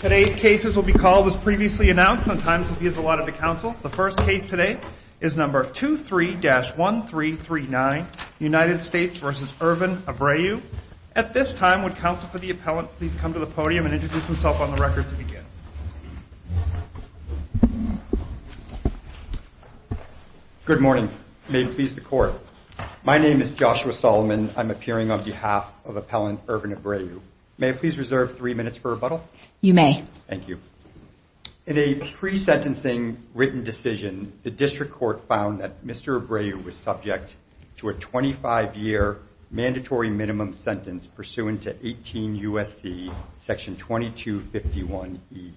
today's cases will be called as previously announced on time to be as a lot of the council the first case today is number 2 3-1 3 3 9 United States vs. urban Abreu at this time would counsel for the appellant please come to the podium and introduce himself on the record to begin good morning may it please the court my name is Joshua Solomon I'm appearing on behalf of you may thank you in a pre sentencing written decision the district court found that mr. Abreu was subject to a 25-year mandatory minimum sentence pursuant to 18 USC section 2251 e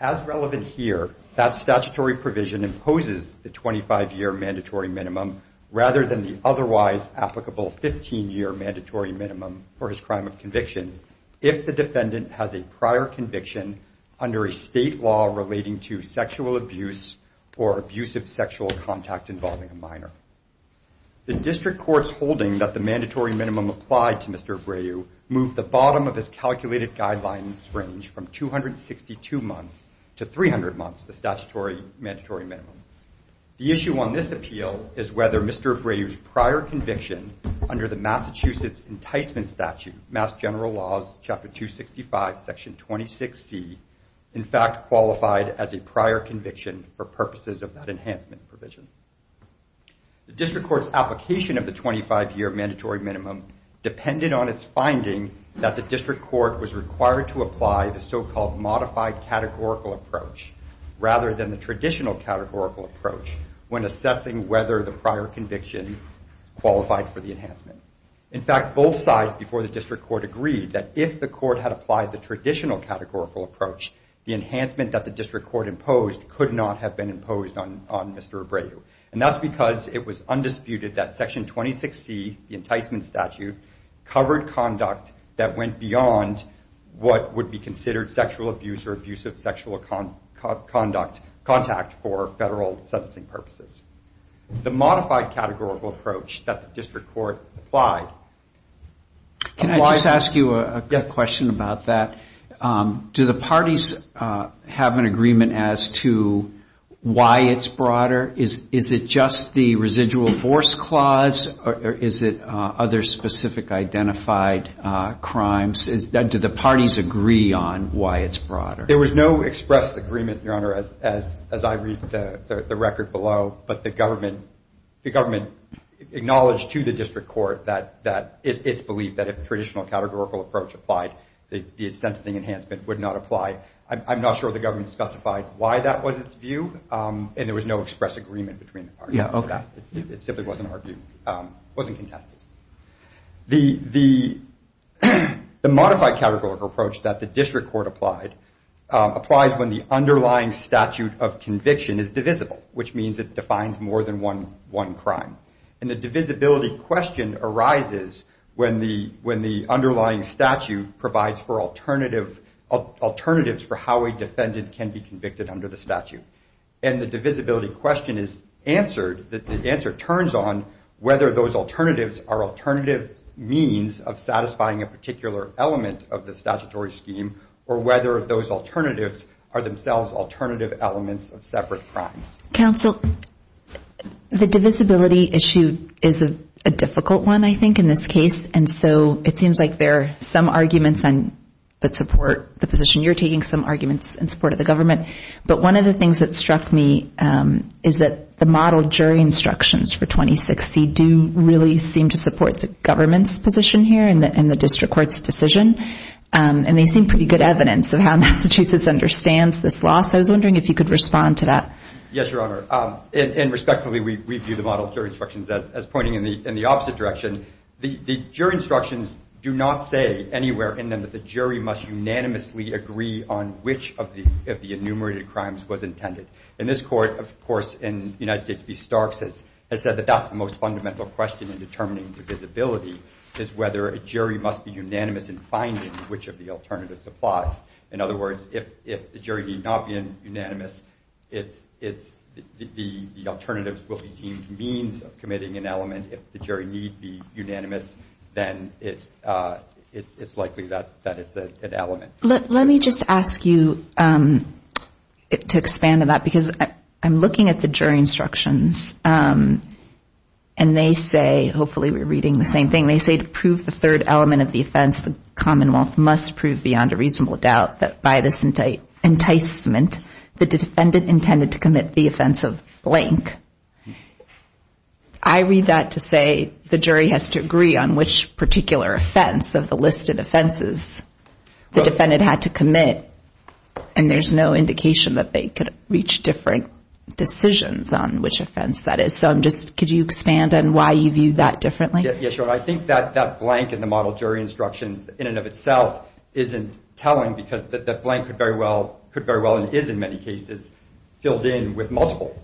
as relevant here that statutory provision imposes the 25-year mandatory minimum rather than the otherwise applicable 15 year mandatory minimum for his crime of conviction if the defendant has a prior conviction under a state law relating to sexual abuse or abusive sexual contact involving a minor the district courts holding that the mandatory minimum applied to mr. Abreu moved the bottom of his calculated guidelines range from 262 months to 300 months the statutory mandatory minimum the issue on this enticement statute general laws chapter 265 section 2060 in fact qualified as a prior conviction for purposes of that enhancement provision district courts application of the 25-year mandatory minimum depended on its finding that the district court was required to apply the so-called modified categorical approach rather than the traditional categorical approach when assessing whether the in fact both sides before the district court agreed that if the court had applied the traditional categorical approach the enhancement that the district court imposed could not have been imposed on on mr. Abreu and that's because it was undisputed that section 2060 the enticement statute covered conduct that went beyond what would be considered sexual abuse or abusive sexual conduct contact for federal sentencing purposes the modified categorical approach that the district court applied can I just ask you a question about that do the parties have an agreement as to why it's broader is is it just the residual force clause or is it other specific identified crimes is that did the parties agree on why it's broader there was no expressed agreement your honor as as I read the record below but the government the acknowledged to the district court that that it's believed that if traditional categorical approach applied the sentencing enhancement would not apply I'm not sure the government specified why that was its view and there was no express agreement between yeah okay it simply wasn't argued wasn't contested the the the modified categorical approach that the district court applied applies when the underlying statute of conviction is divisible which means it and the divisibility question arises when the when the underlying statute provides for alternative alternatives for how a defendant can be convicted under the statute and the divisibility question is answered that the answer turns on whether those alternatives are alternative means of satisfying a particular element of the statutory scheme or whether those alternatives are issue is a difficult one I think in this case and so it seems like there are some arguments on that support the position you're taking some arguments and support of the government but one of the things that struck me is that the model jury instructions for 2060 do really seem to support the government's position here in the in the district courts decision and they seem pretty good evidence of how Massachusetts understands this loss I was wondering if you could respond to that yes your honor and respectfully we review the instructions as pointing in the in the opposite direction the jury instructions do not say anywhere in them that the jury must unanimously agree on which of the enumerated crimes was intended in this court of course in United States B Starks has said that that's the most fundamental question in determining the visibility is whether a jury must be unanimous in finding which of the alternatives applies in other words if the jury need not be in unanimous it's the alternatives will be deemed means of committing an element if the jury need be unanimous then it's it's likely that that it's an element let me just ask you to expand on that because I'm looking at the jury instructions and they say hopefully we're reading the same thing they say to prove the third element of the offense the Commonwealth must prove beyond a reasonable doubt that by this enticement the defendant intended to commit the offense of blank I read that to say the jury has to agree on which particular offense of the listed offenses the defendant had to commit and there's no indication that they could reach different decisions on which offense that is so I'm just could you expand and why you view that differently yes sure I think that that blank in the model jury instructions in and of itself isn't telling because the blank could very well could very well it is in many cases filled in with multiple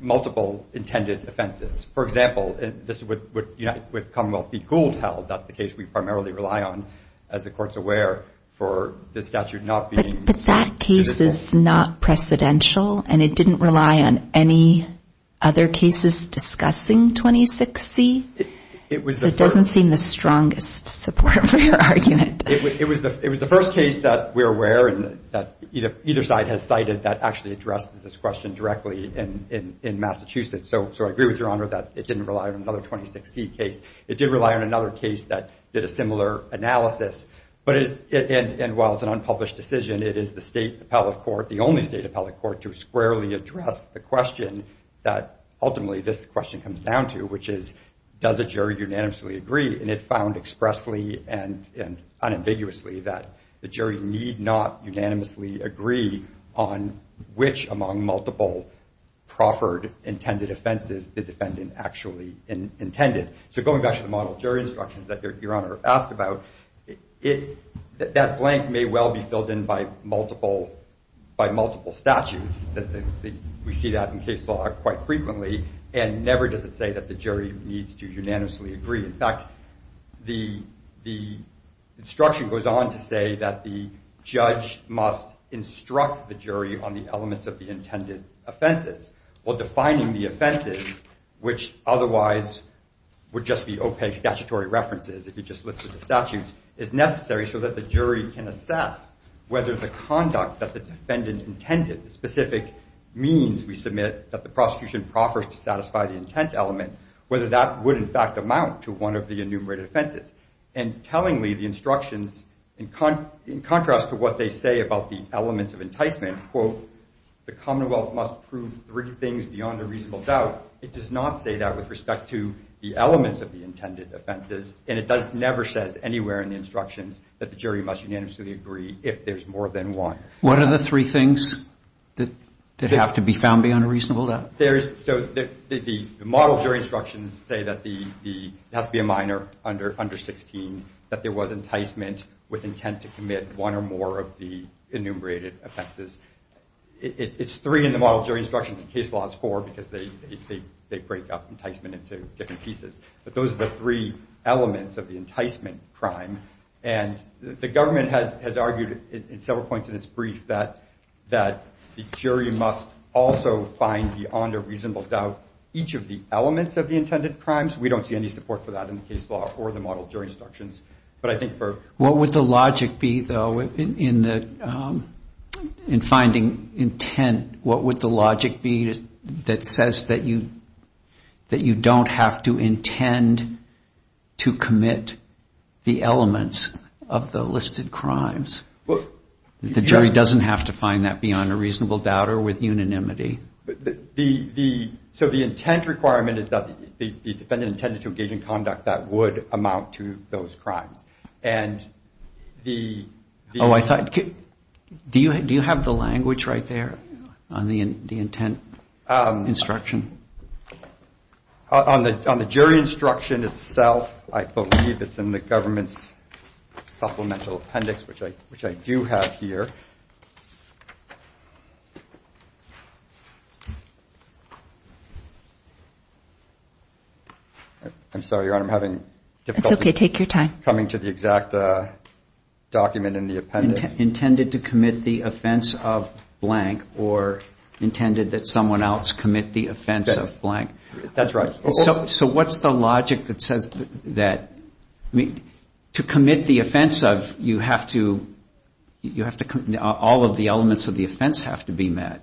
multiple intended offenses for example this would unite with Commonwealth be cooled held that's the case we primarily rely on as the courts aware for this statute not being that case is not precedential and it didn't rely on any other cases discussing 26 C it was it doesn't seem the strongest support for where and that either side has cited that actually addresses this question directly and in Massachusetts so so I agree with your honor that it didn't rely on another 26 C case it did rely on another case that did a similar analysis but it and while it's an unpublished decision it is the state appellate court the only state appellate court to squarely address the question that ultimately this question comes down to which is does a jury unanimously agree and it found expressly and and unambiguously that the jury need not unanimously agree on which among multiple proffered intended offenses the defendant actually intended so going back to the model jury instructions that your honor asked about it that blank may well be filled in by multiple by multiple statutes that we see that in case law quite frequently and never does it say that the jury needs to unanimously agree in fact the the instruction goes on to say that the judge must instruct the jury on the elements of the intended offenses while defining the offenses which otherwise would just be opaque statutory references if you just look at the statutes is necessary so that the jury can assess whether the conduct that the defendant intended specific means we proffers to satisfy the intent element whether that would in fact amount to one of the enumerated offenses and telling me the instructions in con in contrast to what they say about the elements of enticement quote the Commonwealth must prove three things beyond a reasonable doubt it does not say that with respect to the elements of the intended offenses and it does never says anywhere in the instructions that the jury must unanimously agree if there's more than one what are the three things that they have to be found beyond a reasonable doubt there is so that the model jury instructions say that the has to be a minor under under 16 that there was enticement with intent to commit one or more of the enumerated offenses it's three in the model jury instructions case laws for because they they break up enticement into different pieces but those are the three elements of the enticement crime and the government has has argued in several points in its brief that that the jury must also find beyond a reasonable doubt each of the elements of the intended crimes we don't see any support for that in the case law or the model jury instructions but I think for what would the logic be though in the in finding intent what would the logic be that says that you that you don't have to intend to commit the elements of the listed crimes look the jury doesn't have to find that reasonable doubt or with unanimity the the so the intent requirement is that the defendant intended to engage in conduct that would amount to those crimes and the oh I thought do you do you have the language right there on the intent instruction on the jury instruction itself I believe it's in the I'm sorry your honor I'm having difficult okay take your time coming to the exact document in the appendix intended to commit the offense of blank or intended that someone else commit the offense of blank that's right so what's the logic that says that I mean to commit the offense of you have to you have to be met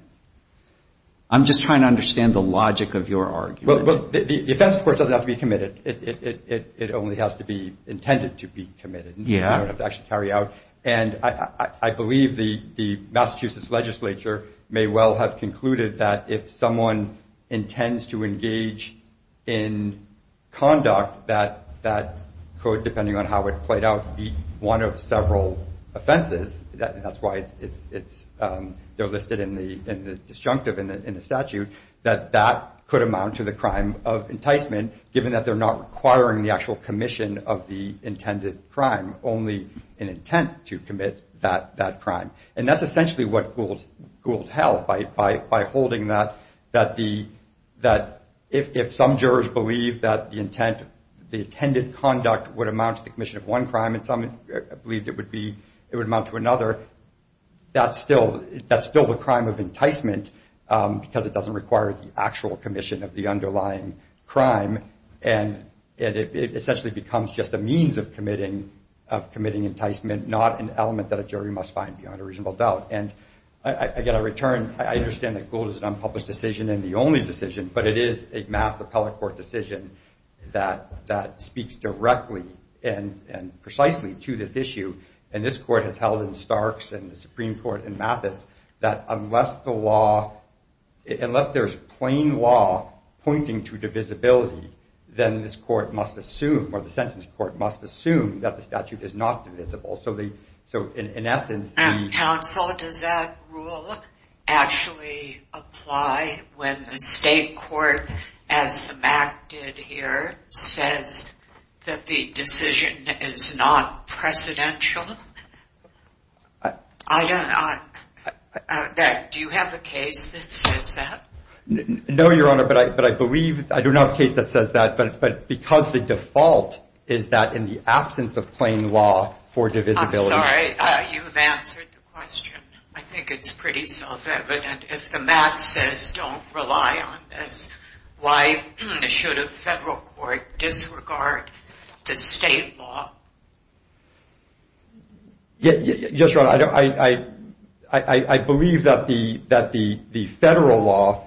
I'm just trying to understand the logic of your argument well the defense court doesn't have to be committed it only has to be intended to be committed yeah I don't have to actually carry out and I believe the the Massachusetts legislature may well have concluded that if someone intends to engage in conduct that that code depending on how it played out be one of it's it's they're listed in the in the disjunctive in the statute that that could amount to the crime of enticement given that they're not requiring the actual commission of the intended crime only an intent to commit that that crime and that's essentially what fooled fooled held by by holding that that the that if some jurors believe that the intent the intended conduct would amount to the commission of one crime and some believed it would be it would amount to other that's still that's still the crime of enticement because it doesn't require the actual commission of the underlying crime and it essentially becomes just a means of committing of committing enticement not an element that a jury must find beyond a reasonable doubt and I get a return I understand that gold is an unpublished decision and the only decision but it is a mass appellate court decision that that speaks directly and and precisely to this issue and this court has held in Starks and the Supreme Court and Mathis that unless the law unless there's plain law pointing to divisibility then this court must assume or the sentence court must assume that the statute is not divisible so they so in essence actually apply when the state court as the back did here says that the decision is not presidential I don't know that do you have a case that says that no your honor but I but I believe I do not case that says that but but because the default is that in the absence of plain law for divisibility I think it's pretty self-evident if the max says don't rely on this why should a federal court disregard the state law yes yes right I I I believe that the that the the federal law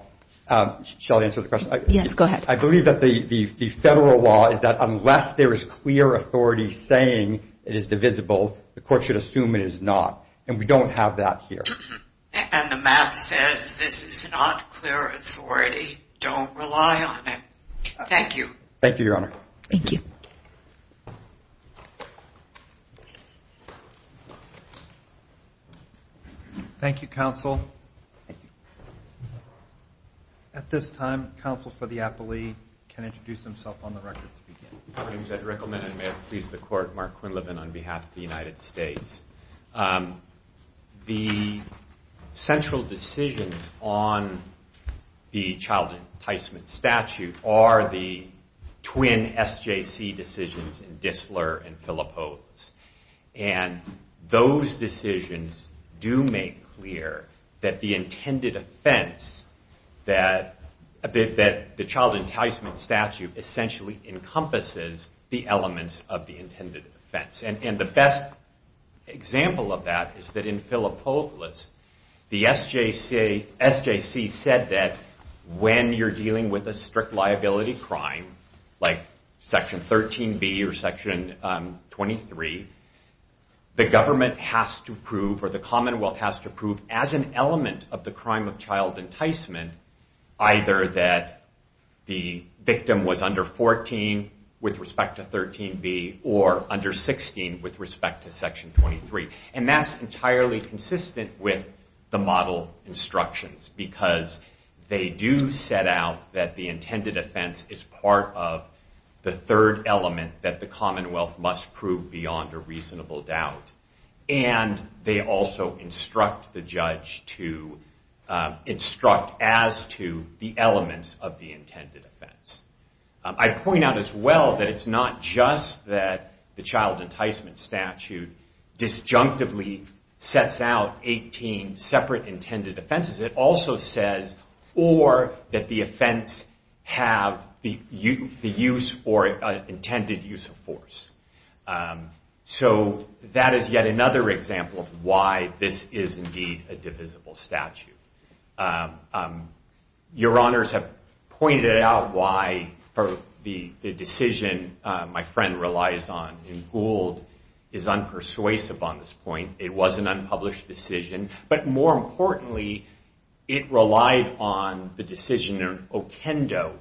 shall answer the question yes go ahead I believe that the the federal law is that unless there is clear authority saying it is divisible the court should assume it is not and we don't have that here and the map says this is not clear don't rely on it thank you thank you your honor thank you thank you counsel at this time counsel for the appellee can introduce himself on the record please the court Mark Quinlivan on behalf of the United States the central decisions on the child enticement statute are the twin SJC decisions in Distler and Philopos and those decisions do make clear that the intended offense that a bit that the child enticement statute essentially encompasses the elements of the intended offense and the best example of that is that in Philopolis the SJC SJC said that when you're dealing with a strict liability crime like section 13 B or section 23 the government has to prove or the Commonwealth has to prove as an element of the crime of child enticement either that the victim was under 14 with respect to 13 B or under 16 with respect to section 23 and that's entirely consistent with the model instructions because they do set out that the intended offense is part of the third element that the Commonwealth must prove beyond a reasonable doubt and they also instruct the judge to instruct as to the elements of the intended offense. I point out as well that it's not just that the child enticement statute disjunctively sets out 18 separate intended offenses it also says or that the offense have the use or intended use of force so that is yet another example why this is indeed a divisible statute. Your honors have pointed out why for the decision my friend relies on in Gould is unpersuasive on this point it was an unpublished decision but more importantly it relied on the decisioner Okendo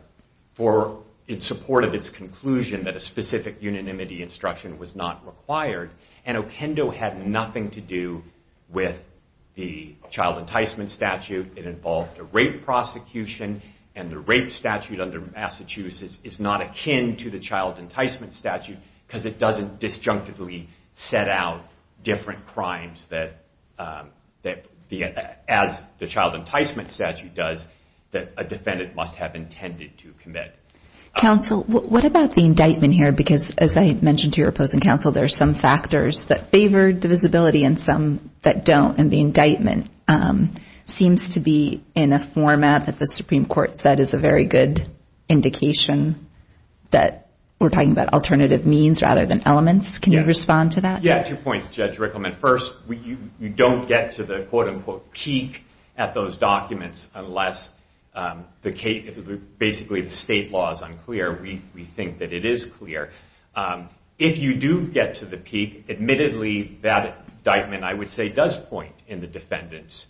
for in support of its conclusion that a specific unanimity instruction was not required and Okendo had nothing to do with the child enticement statute it involved a rape prosecution and the rape statute under Massachusetts is not akin to the child enticement statute because it doesn't disjunctively set out different crimes that as the child enticement statute does that a defendant must have intended to commit. Counsel what about the indictment here because as I mentioned to your opposing counsel there are some factors that favor divisibility and some that don't and the indictment seems to be in a format that the Supreme Court said is a very good indication that we're talking about alternative means rather than elements can you respond to that? Two points Judge Rickleman first we don't get to the quote-unquote peak at those documents unless basically the state law is unclear we think that it is clear if you do get to the peak admittedly that indictment I would say does point in the defendant's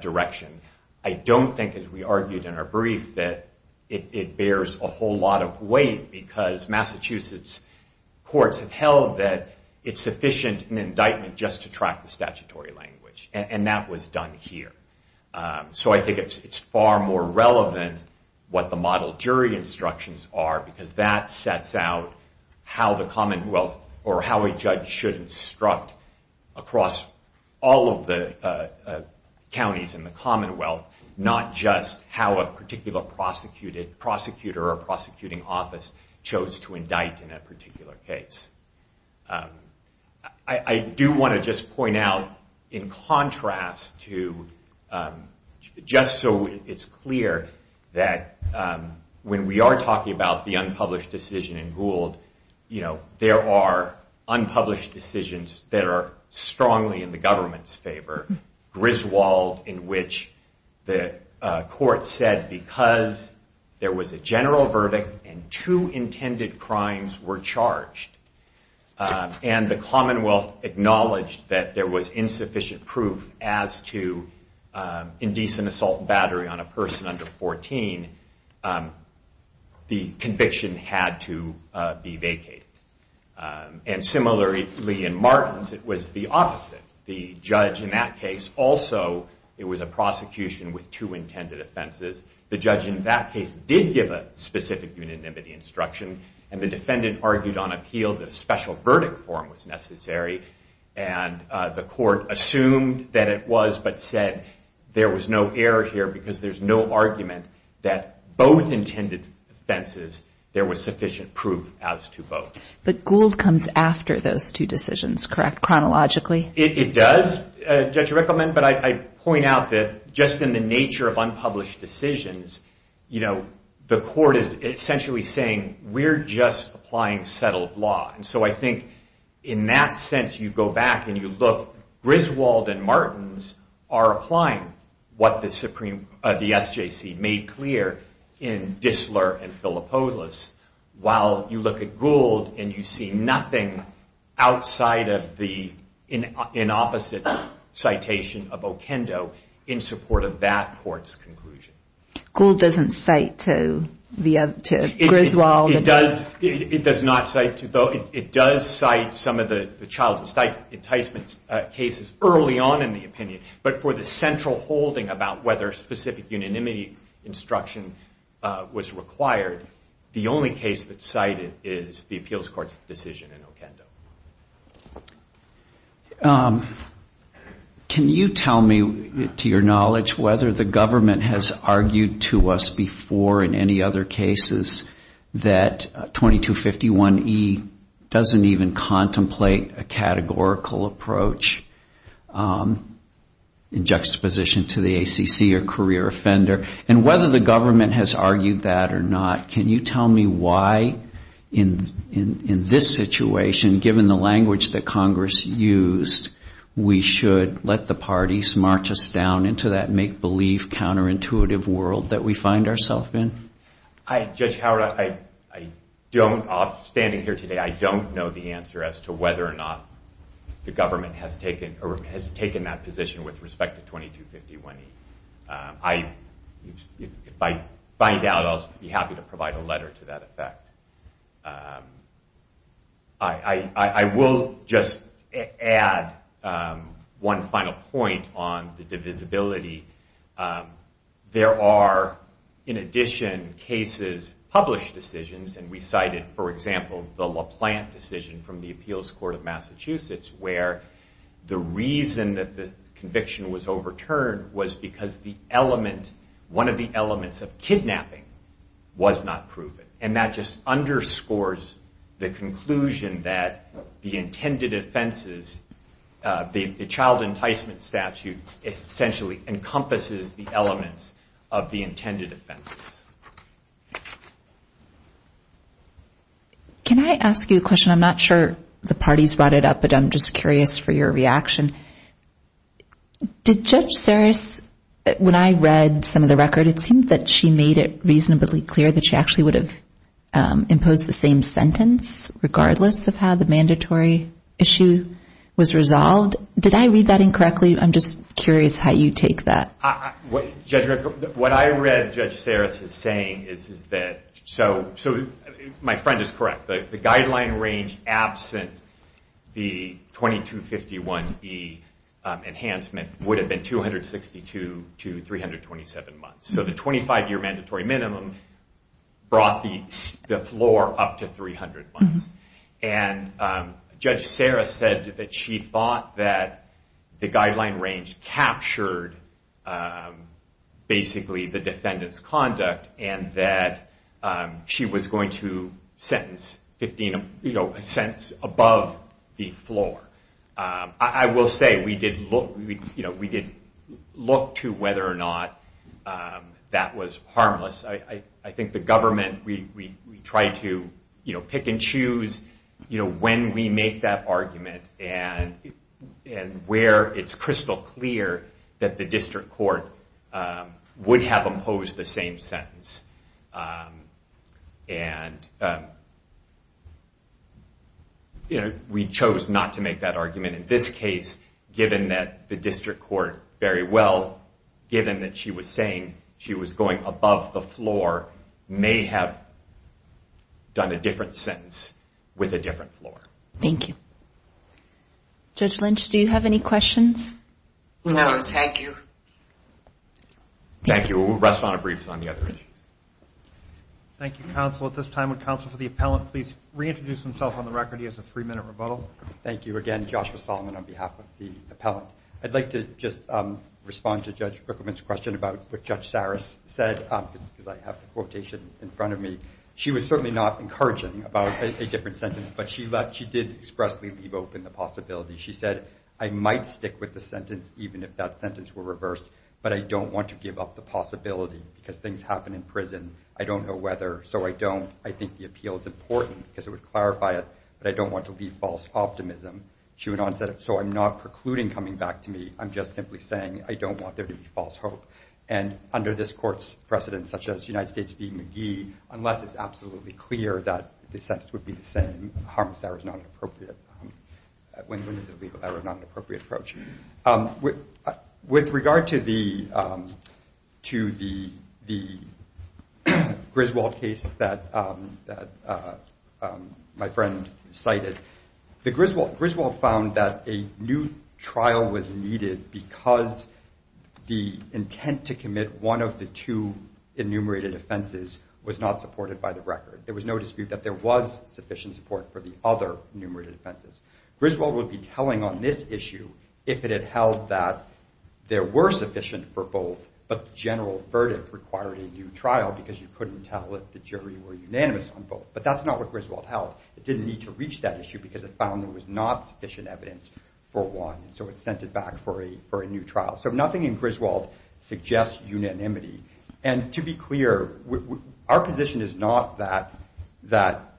direction I don't think as we argued in our brief that it bears a whole lot of weight because Massachusetts courts have held that it's sufficient an indictment just to track the statutory language and that was done here so I think it's far more relevant what the model jury instructions are because that sets out how the Commonwealth or how a judge should instruct across all of the counties in the Commonwealth not just how a particular prosecutor or prosecuting office chose to indict in a particular case. I do want to just point out in contrast to just so it's clear that when we are talking about the unpublished decision in Gould you know there are unpublished decisions that are strongly in the government's favor Griswold in which the court said because there was a general verdict and two intended crimes were charged and the Commonwealth acknowledged that there was the conviction had to be vacated and similarly in Martins it was the opposite the judge in that case also it was a prosecution with two intended offenses the judge in that case did give a specific unanimity instruction and the defendant argued on appeal that a special verdict form was necessary and the court assumed that it was but said there was no error here because there's no argument that both intended offenses there was sufficient proof as to both. But Gould comes after those two decisions correct chronologically? It does Judge Rickleman but I point out that just in the nature of unpublished decisions you know the court is essentially saying we're just applying settled law and so I think in that sense you go back and you look Griswold and SJC made clear in Dissler and Filopoulos while you look at Gould and you see nothing outside of the in opposite citation of Okendo in support of that court's conclusion. Gould doesn't cite to Griswold? It does it does not cite to though it does cite some of the child enticement cases early on in the instruction was required the only case that cited is the appeals court's decision in Okendo. Can you tell me to your knowledge whether the government has argued to us before in any other cases that 2251e doesn't even contemplate a categorical approach in juxtaposition to the ACC or career offender and whether the government has argued that or not can you tell me why in in this situation given the language that Congress used we should let the parties march us down into that make-believe counterintuitive world that we find ourselves in? Judge Howard I don't off standing here today I don't know the answer as to whether or not the government has taken or has taken that position with respect to 2251e. If I find out I'll be happy to provide a letter to that effect. I will just add one final point on the divisibility there are in addition cases published decisions and we cited for example the LaPlante decision from the appeals court of Massachusetts where the reason that the conviction was overturned was because the element one of the elements of kidnapping was not proven and that just underscores the conclusion that the intended offenses the child enticement statute essentially encompasses the elements of the intended offenses. Can I ask you a question I'm not sure the parties brought it up but I'm just curious for your reaction. Did Judge Sarris when I read some of the record it seemed that she made it reasonably clear that she actually would have imposed the same sentence regardless of how the mandatory issue was resolved? Did I read that incorrectly I'm just curious how you take that? What I read Judge Sarris is saying is that so so my friend is correct the guideline range absent the 2251 E enhancement would have been 262 to 327 months so the 25 year mandatory minimum brought the floor up to 300 months and Judge Sarris said that she thought that the guideline range captured basically the defendants conduct and that she was going to sentence you know a sense above the floor. I will say we did look you know we did look to whether or not that was harmless I I think the government we we tried to you know pick and choose you know when we make that argument and and where it's crystal clear that the same sentence and you know we chose not to make that argument in this case given that the district court very well given that she was saying she was going above the floor may have done a different sentence with a different floor. Thank you. Judge Lynch do you have any questions? No thank you. Thank you we'll rest on a brief on the other issues. Thank you counsel at this time would counsel for the appellant please reintroduce himself on the record he has a three-minute rebuttal. Thank you again Joshua Solomon on behalf of the appellant I'd like to just respond to Judge Bickerman's question about what Judge Sarris said because I have the quotation in front of me she was certainly not encouraging about a different sentence but she left she did expressly leave open the possibility she said I might stick with the sentence even if that sentence were reversed but I don't want to give up the possibility because things happen in prison I don't know whether so I don't I think the appeal is important because it would clarify it but I don't want to leave false optimism. She went on said so I'm not precluding coming back to me I'm just simply saying I don't want there to be false hope and under this court's precedents such as United States being McGee unless it's absolutely clear that the sentence would be the same, Harm's error is not an appropriate approach. With regard to the Griswold case that my friend cited the Griswold Griswold found that a new trial was needed because the intent to commit one of the two enumerated offenses was not supported by the record there was no dispute that there was sufficient support for the other enumerated offenses. Griswold would be telling on this issue if it had held that there were sufficient for both but the general verdict required a new trial because you couldn't tell if the jury were unanimous on both but that's not what Griswold held it didn't need to reach that issue because it found there was not sufficient evidence for one so it sent it back for a for a new trial so nothing in Griswold suggests unanimity and to be clear our position is not that that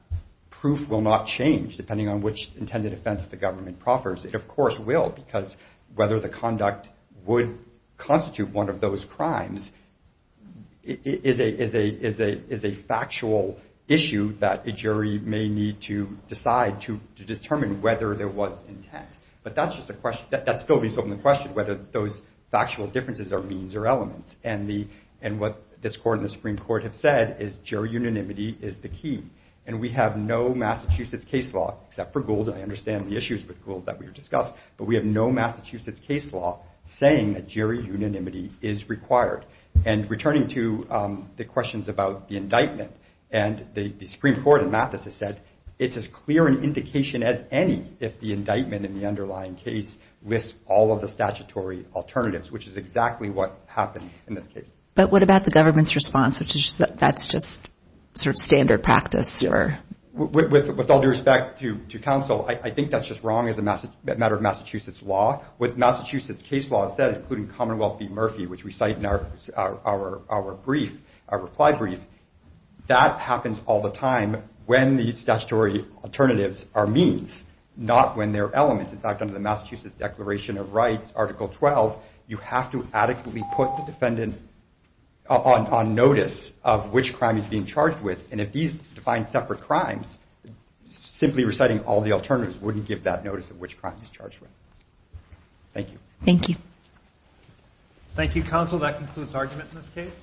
proof will not change depending on which intended offense the government proffers it of course will because whether the conduct would constitute one of those crimes is a factual issue that a jury may need to decide to determine whether there was intent but that's just a question that still needs to open the question whether those factual differences are means or elements and the and what this court in the Supreme Court have said is jury unanimity is the key and we have no Massachusetts case law except for Gould and I understand the issues with Gould that we were discussed but we have no Massachusetts case law saying that jury unanimity is required and returning to the questions about the indictment and the Supreme Court in Matheson said it's as clear an indication as any if the indictment in the underlying case lists all of the statutory alternatives which is exactly what happened in this case. But what about the government's response which is that that's just sort of standard practice? With all due respect to counsel I think that's just wrong as a matter of Massachusetts law with Massachusetts case law said including Commonwealth v. Murphy which we cite in our brief our reply brief that happens all the time when these statutory alternatives are means not when they're elements in fact under the Massachusetts Declaration of Rights article 12 you have to adequately put the defendant on notice of which crime is being charged with and if these define separate crimes simply reciting all the alternatives wouldn't give that notice of which crime is charged with. Thank you. Thank you. Thank you counsel that concludes argument in this case.